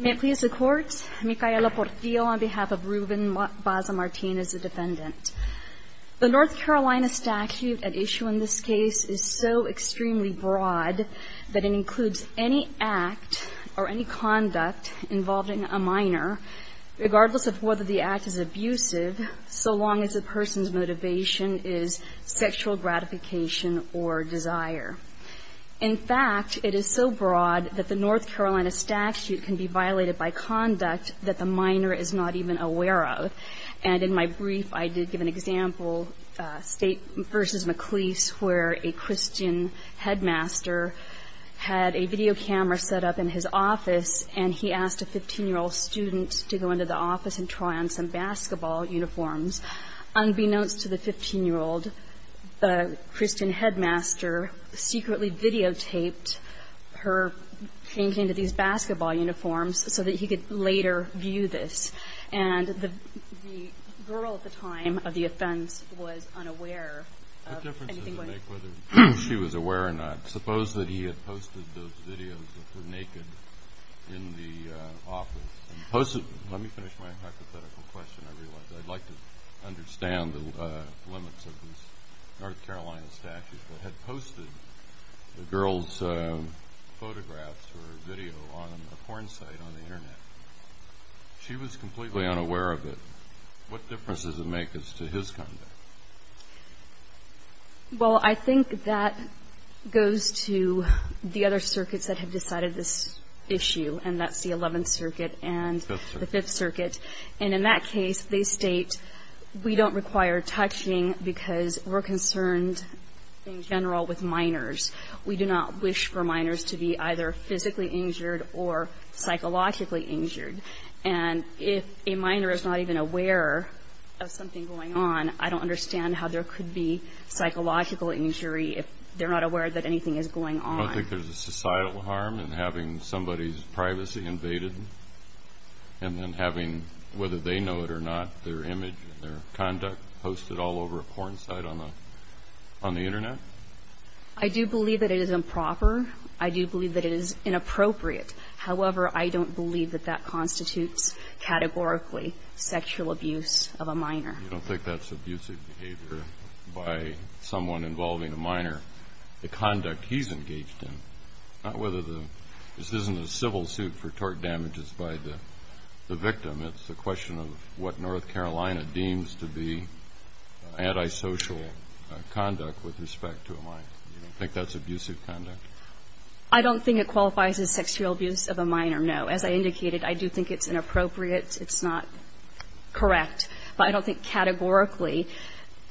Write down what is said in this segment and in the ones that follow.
The North Carolina statute at issue in this case is so extremely broad that it includes any act or any conduct involving a minor, regardless of whether the act is abusive, so long as the person's motivation is sexual gratification or desire. In fact, it is so broad that the North Carolina statute can be violated by conduct that the minor is not even aware of. And in my brief, I did give an example, State v. McLeese, where a Christian headmaster had a video camera set up in his office, and he asked a 15-year-old student to go into the office and try on some basketball uniforms. Unbeknownst to the 15-year-old, the Christian headmaster secretly videotaped her changing into these basketball uniforms so that he could later view this. And the girl at the time of the offense was unaware of anything going on. Whether she was aware or not, suppose that he had posted those videos of her naked in the office. Let me finish my hypothetical question, I realize. I'd like to understand the limits of this North Carolina statute, but had posted the girl's photographs or video on a porn site on the Internet. She was completely unaware of it. What difference does it make as to his conduct? Well, I think that goes to the other circuits that have decided this issue, and that's the Eleventh Circuit and the Fifth Circuit. And in that case, they state we don't require touching because we're concerned in general with minors. We do not wish for minors to be either physically injured or psychologically injured. And if a minor is not even aware of something going on, I don't understand how there could be psychological injury if they're not aware that anything is going on. I don't think there's a societal harm in having somebody's privacy invaded and then having, whether they know it or not, their image and their conduct posted all over a porn site on the Internet. I do believe that it is improper. I do believe that it is inappropriate. However, I don't believe that that constitutes categorically sexual abuse of a minor. I don't think that's abusive behavior by someone involving a minor. The conduct he's engaged in, not whether the ñ this isn't a civil suit for tort damages by the victim. It's a question of what North Carolina deems to be antisocial conduct with respect to a minor. You don't think that's abusive conduct? I don't think it qualifies as sexual abuse of a minor, no. As I indicated, I do think it's inappropriate. It's not correct. But I don't think categorically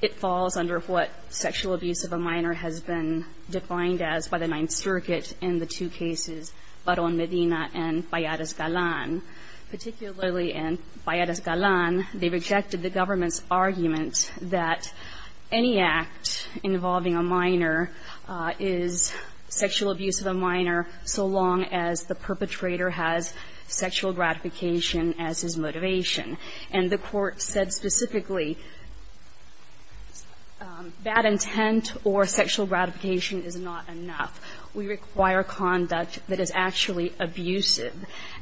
it falls under what sexual abuse of a minor has been defined as by the Ninth Circuit in the two cases, Barón Medina and Payadas-Galán. Particularly in Payadas-Galán, they rejected the government's argument that any act involving a minor is sexual abuse of a minor so long as the perpetrator has sexual gratification as his motivation. And the Court said specifically, bad intent or sexual gratification is not enough. We require conduct that is actually abusive.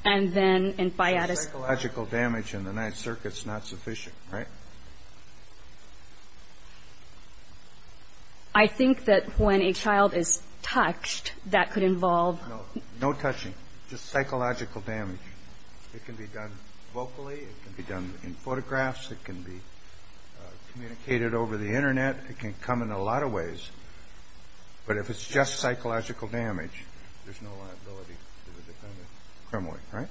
So psychological damage in the Ninth Circuit's not sufficient, right? I think that when a child is touched, that could involve ñ No. No touching. Just psychological damage. It can be done vocally. It can be done in photographs. It can be communicated over the Internet. It can come in a lot of ways. But if it's just psychological damage, there's no liability to the defendant criminally, right?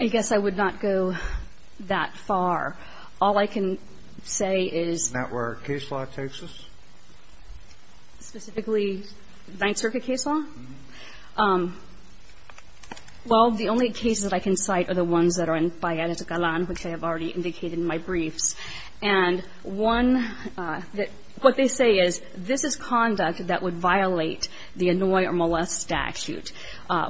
I guess I would not go that far. All I can say is ñ Is that where case law takes us? Specifically, Ninth Circuit case law? Well, the only cases that I can cite are the ones that are in Payadas-Galán, which I have already indicated in my briefs. And one that ñ what they say is, this is conduct that would violate the annoy or molest, but would not constitute the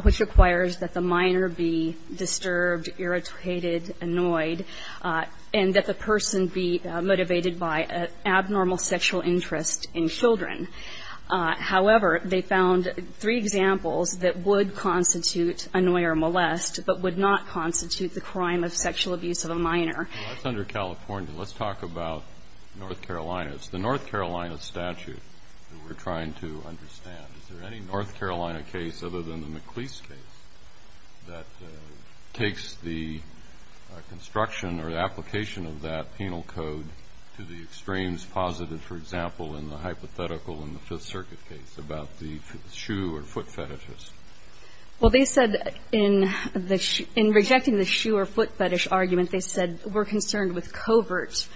crime of sexual abuse of a minor. Well, that's under California. Let's talk about North Carolina. It's the North Carolina statute that we're trying to understand. Is there any North Carolina case other than the McLeese case that would constitute the crime of sexual abuse of a minor? No. Well, there are a number of cases that take the construction or application of that penal code to the extremes posited, for example, in the hypothetical in the Fifth Circuit case about the shoe or foot fetishist. Well, they said in the ñ in rejecting the shoe or foot fetish argument, they said we're concerned with covert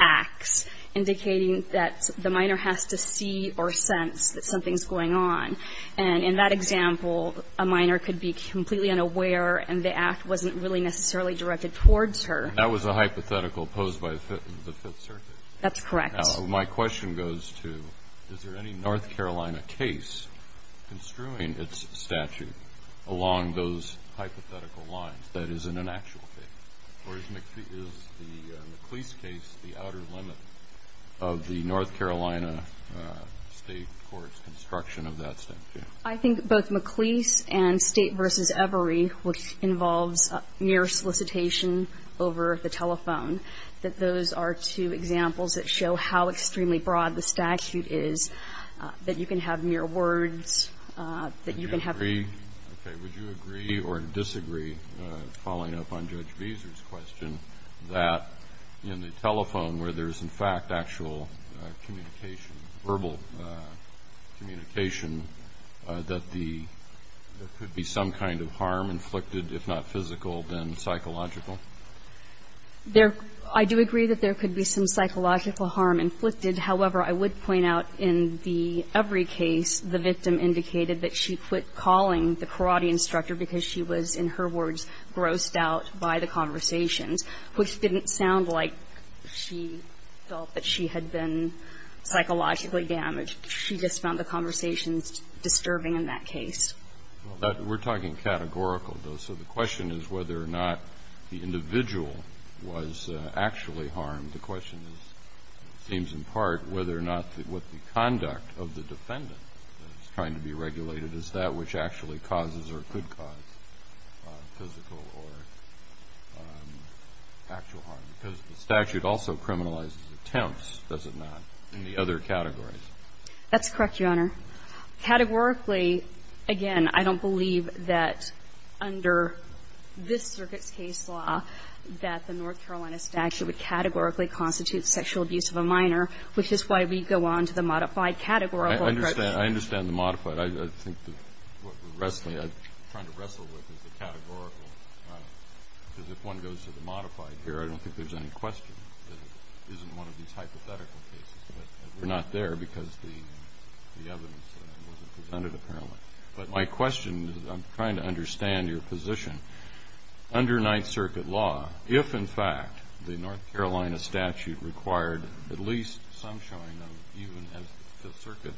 acts indicating that the minor has to see or sense that the shoe or foot fetishist has no interest in that. They said in that example a minor could be completely unaware and the act wasn't really necessarily directed towards her. That was a hypothetical posed by the Fifth Circuit? That's correct. Now, my question goes to, is there any North Carolina case construing its statute along those hypothetical lines that isn't an actual case? Or is the McLeese case the outer limit of the North Carolina State Court's construction of that statute? I think both McLeese and State v. Every, which involves mere solicitation over the telephone, that those are two examples that show how extremely broad the statute is, that you can have mere words, that you can have... Okay. Would you agree or disagree, following up on Judge Beeser's question, that in the telephone where there's, in fact, actual communication, verbal communication, that there could be some kind of harm inflicted, if not physical, then psychological? I do agree that there could be some psychological harm inflicted. However, I would point out in the Every case, the victim indicated that she quit calling the karate instructor because she was, in her words, grossed out by the conversations, which didn't sound like she felt that she had been psychologically damaged. She just found the conversations disturbing in that case. We're talking categorical, though. So the question is whether or not the individual was actually harmed. And the question is, it seems in part, whether or not what the conduct of the defendant that is trying to be regulated is that which actually causes or could cause physical or actual harm, because the statute also criminalizes attempts, does it not, in the other categories? That's correct, Your Honor. Categorically, again, I don't believe that under this Circuit's case law that the minor, which is why we go on to the modified categorical approach. I understand. I understand the modified. I think what we're wrestling, trying to wrestle with is the categorical, because if one goes to the modified here, I don't think there's any question that it isn't one of these hypothetical cases. But we're not there because the evidence wasn't presented, apparently. But my question is, I'm trying to understand your position. Under Ninth Circuit law, if, in fact, the North Carolina statute required at least some showing of, even as the Circuit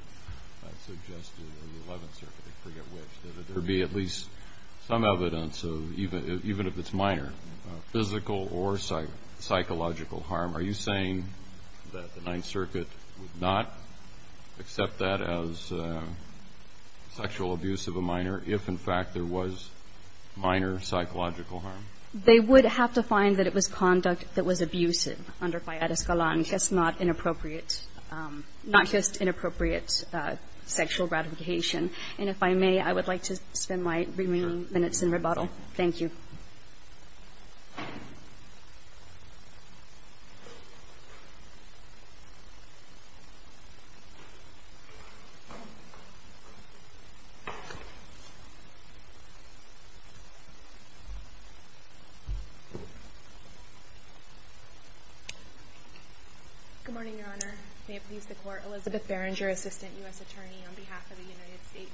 suggested or the Eleventh Circuit, I forget which, that there be at least some evidence of, even if it's minor, physical or psychological harm, are you saying that the Ninth Circuit would not accept that as sexual abuse of a minor or psychological harm? They would have to find that it was conduct that was abusive under Fiat Escalante. That's not inappropriate, not just inappropriate sexual gratification. And if I may, I would like to spend my remaining minutes in rebuttal. Thank you. Good morning, Your Honor. May it please the Court. Elizabeth Berenger, Assistant U.S. Attorney on behalf of the United States.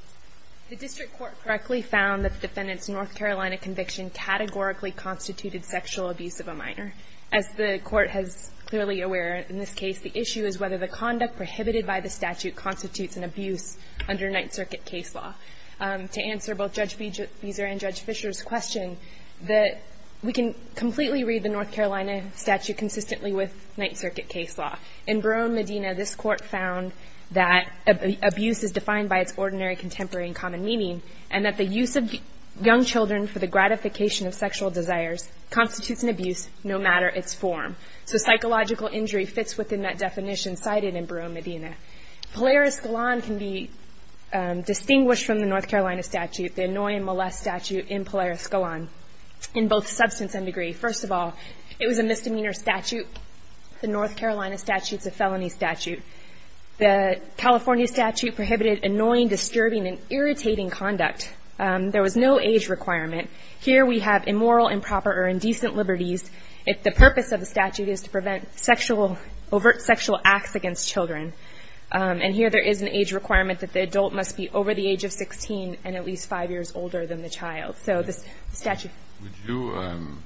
The District Court correctly found that the defendant's North Carolina conviction categorically constituted sexual abuse of a minor. As the Court is clearly aware in this case, the issue is whether the conduct prohibited by the statute constitutes an abuse under Ninth Circuit case law. To answer both Judge Beezer and Judge Fisher's questions, we can completely read the North Carolina statute consistently with Ninth Circuit case law. In Barone, Medina, this Court found that abuse is defined by its ordinary contemporary and common meaning, and that the use of young children for the gratification of sexual desires constitutes an abuse no matter its form. So psychological injury fits within that definition cited in Barone, Medina. Polaris Galan can be distinguished from the North Carolina statute, the annoying molest statute in Polaris Galan in both substance and degree. First of all, it was a misdemeanor statute. The North Carolina statute's a felony statute. The California statute prohibited annoying, disturbing, and irritating conduct. There was no age requirement. Here we have immoral, improper, or indecent liberties if the purpose of the statute is to prevent overt sexual acts against children. And here there is an age requirement that the adult must be over the age of 16 and at least five years older than the child. So the statute ---- Would you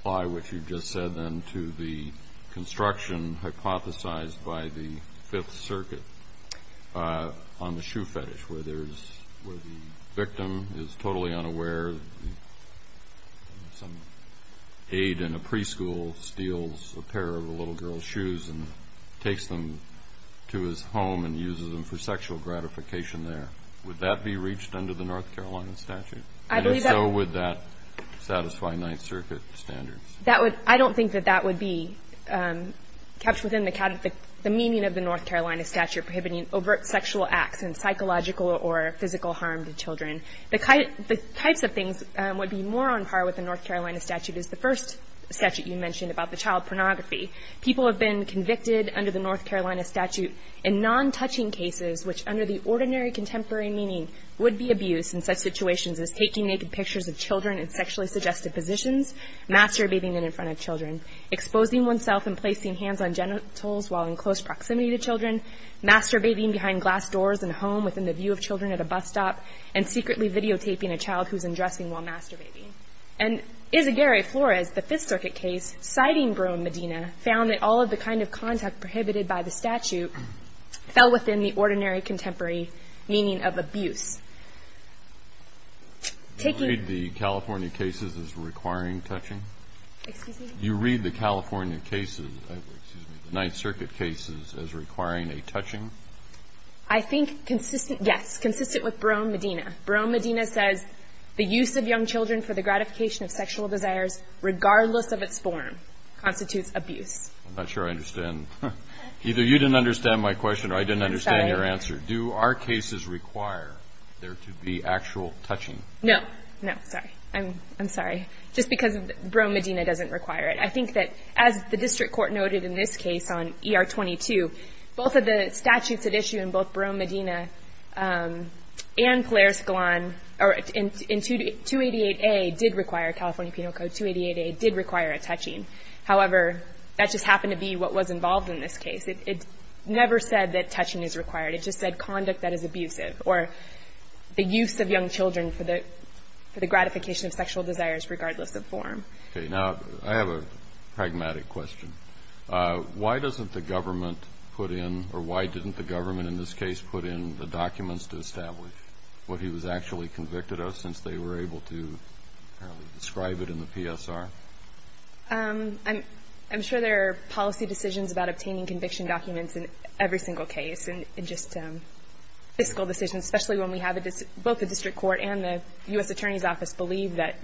apply what you just said then to the construction hypothesized by the Fifth Circuit on the shoe fetish, where the victim is totally unaware, where some aide in a preschool steals a pair of a little girl's shoes and takes them to his home and uses them for sexual gratification there? Would that be reached under the North Carolina statute? I believe that ---- And if so, would that satisfy Ninth Circuit standards? That would ---- I don't think that that would be kept within the meaning of the North Carolina statute prohibiting overt sexual acts and psychological or physical harm to children. The types of things would be more on par with the North Carolina statute as the first statute you mentioned about the child pornography. People have been convicted under the North Carolina statute in non-touching cases, which under the ordinary contemporary meaning would be abuse in such situations as taking naked pictures of children in sexually suggestive positions, masturbating in front of children, exposing oneself and placing hands on genitals while in close proximity to children, masturbating behind glass doors in a home within the view of children at a bus stop, and secretly videotaping a child who's undressing while masturbating. And Isaguerre Flores, the Fifth Circuit case, citing Brohm-Medina, found that all of the kind of contact prohibited by the statute fell within the ordinary contemporary meaning of abuse. Taking ---- You read the California cases as requiring touching? Excuse me? You read the California cases, excuse me, the Ninth Circuit cases as requiring a touching? I think consistent, yes, consistent with Brohm-Medina. Brohm-Medina says the use of young children for the gratification of sexual desires, regardless of its form, constitutes abuse. I'm not sure I understand. Either you didn't understand my question or I didn't understand your answer. Do our cases require there to be actual touching? No. No, sorry. I'm sorry. Just because Brohm-Medina doesn't require it. I think that, as the district court noted in this case on ER-22, both of the statutes at issue in both Brohm-Medina and Polaris-Galan, in 288A did require, California Penal Code 288A, did require a touching. However, that just happened to be what was involved in this case. It never said that touching is required. It just said conduct that is abusive, or the use of young children for the gratification of sexual desires, regardless of form. Okay. Now, I have a pragmatic question. Why doesn't the government put in or why didn't the government in this case put in the documents to establish what he was actually convicted of since they were able to describe it in the PSR? I'm sure there are policy decisions about obtaining conviction documents in every single case and just fiscal decisions, especially when we have both the district court and the U.S. Attorney's Office believe that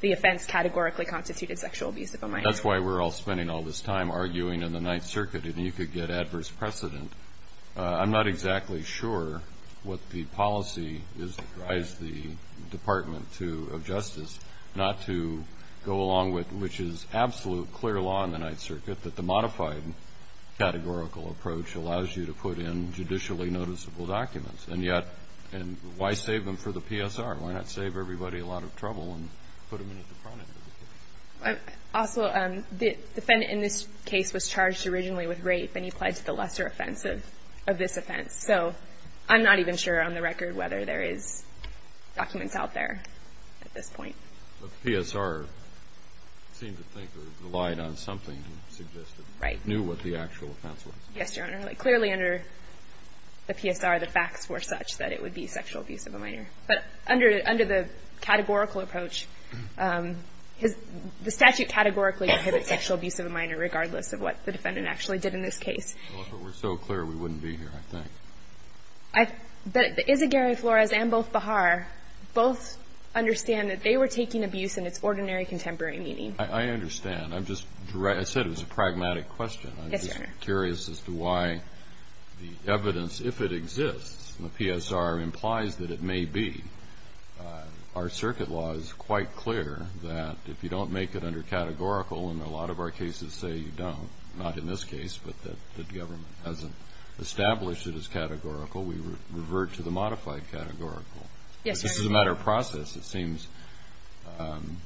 the offense categorically constituted sexual abuse of a minor. That's why we're all spending all this time arguing in the Ninth Circuit and you could get adverse precedent. I'm not exactly sure what the policy is that drives the Department of Justice not to go along with, which is absolute clear law in the Ninth Circuit, that the modified categorical approach allows you to put in judicially noticeable documents. And yet, why save them for the PSR? Why not save everybody a lot of trouble and put them in at the front end of the case? Also, the defendant in this case was charged originally with rape and he pled to the lesser offense of this offense. So I'm not even sure on the record whether there is documents out there at this point. But the PSR seemed to think or relied on something suggested. Right. Knew what the actual offense was. Yes, Your Honor. Clearly under the PSR, the facts were such that it would be sexual abuse of a minor. But under the categorical approach, the statute categorically prohibits sexual abuse of a minor regardless of what the defendant actually did in this case. Well, if it were so clear, we wouldn't be here, I think. But Isaguerre, Flores, and both Bahar, both understand that they were taking abuse in its ordinary contemporary meaning. I understand. I just said it was a pragmatic question. Yes, Your Honor. I'm just curious as to why the evidence, if it exists, and the PSR implies that it may be, our circuit law is quite clear that if you don't make it under categorical, and a lot of our cases say you don't, not in this case, but that the government hasn't established it as categorical, we revert to the modified categorical. Yes, Your Honor. This is a matter of process. It seems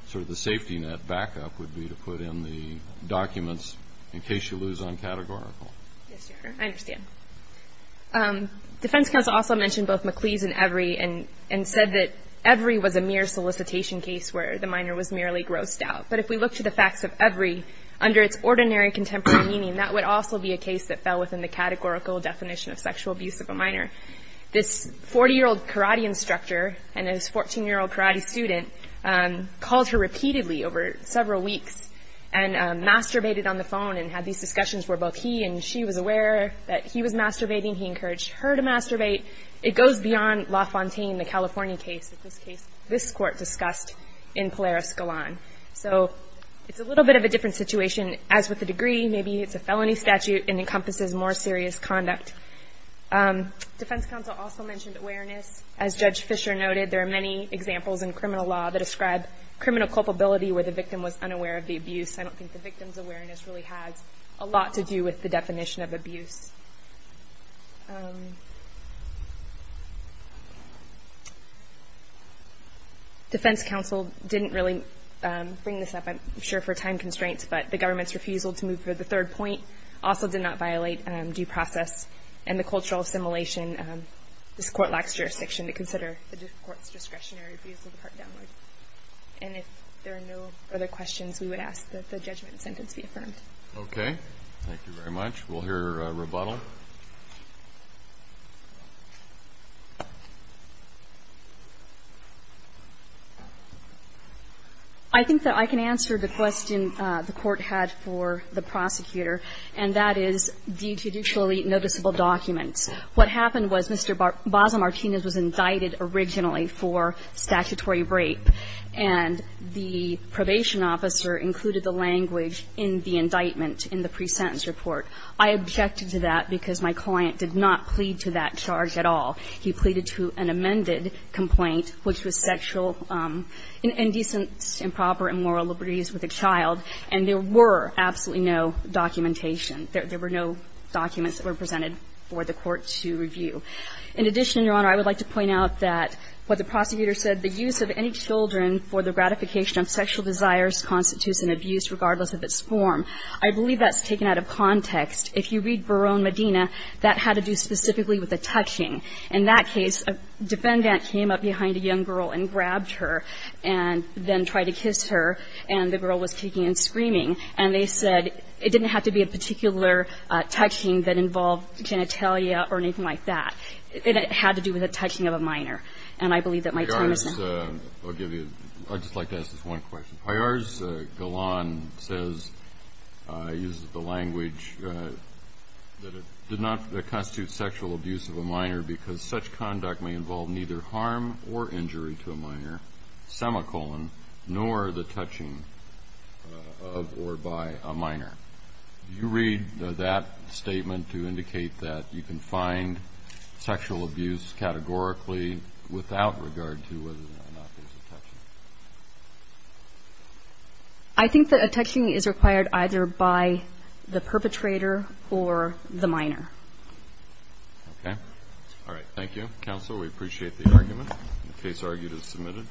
sort of the safety net backup would be to put in the documents in case you lose on categorical. Yes, Your Honor. I understand. Defense counsel also mentioned both McClease and Evry and said that Evry was a mere solicitation case where the minor was merely grossed out. But if we look to the facts of Evry, under its ordinary contemporary meaning, that would also be a case that fell within the categorical definition of sexual abuse of a minor. This 40-year-old karate instructor and this 14-year-old karate student called her repeatedly over several weeks and masturbated on the phone and had these discussions where both he and she was aware that he was masturbating. He encouraged her to masturbate. It goes beyond LaFontaine, the California case. In this case, this court discussed in Polaris Galan. So it's a little bit of a different situation. As with the degree, maybe it's a felony statute and encompasses more serious conduct. Defense counsel also mentioned awareness. As Judge Fisher noted, there are many examples in criminal law that describe criminal culpability where the victim was unaware of the abuse. I don't think the victim's awareness really has a lot to do with the definition of abuse. Defense counsel didn't really bring this up, I'm sure, for time constraints, but the government's refusal to move to the third point also did not violate due process and the cultural assimilation. This court lacks jurisdiction to consider the court's discretionary views of the part downloaded. And if there are no other questions, we would ask that the judgment sentence be affirmed. Okay. Thank you very much. We'll hear a rebuttal. I think that I can answer the question the court had for the prosecutor, and that is the judicially noticeable documents. What happened was Mr. Basa-Martinez was indicted originally for statutory rape, and the probation officer included the language in the indictment in the pre-sentence report. I objected to that because my client did not plead to that charge at all. He pleaded to an amended complaint, which was sexual indecency, improper immoral liberties with a child, and there were absolutely no documentation. There were no documents that were presented for the court to review. In addition, Your Honor, I would like to point out that what the prosecutor said, the use of any children for the gratification of sexual desires constitutes an abuse regardless of its form. I believe that's taken out of context. If you read Barone Medina, that had to do specifically with the touching. In that case, a defendant came up behind a young girl and grabbed her and then tried to kiss her, and the girl was kicking and screaming, and they said it didn't have to be a particular touching that involved genitalia or anything like that. It had to do with the touching of a minor. And I believe that my time is up. I'll give you – I'd just like to ask this one question. Hayar's Golan says, uses the language, that it did not constitute sexual abuse of a minor because such conduct may involve neither harm or injury to a minor, semicolon, nor the touching of or by a minor. Do you read that statement to indicate that you can find sexual abuse categorically without regard to whether or not there's a touching? I think that a touching is required either by the perpetrator or the minor. Okay. All right. Thank you, counsel. We appreciate the argument. The case argued is submitted.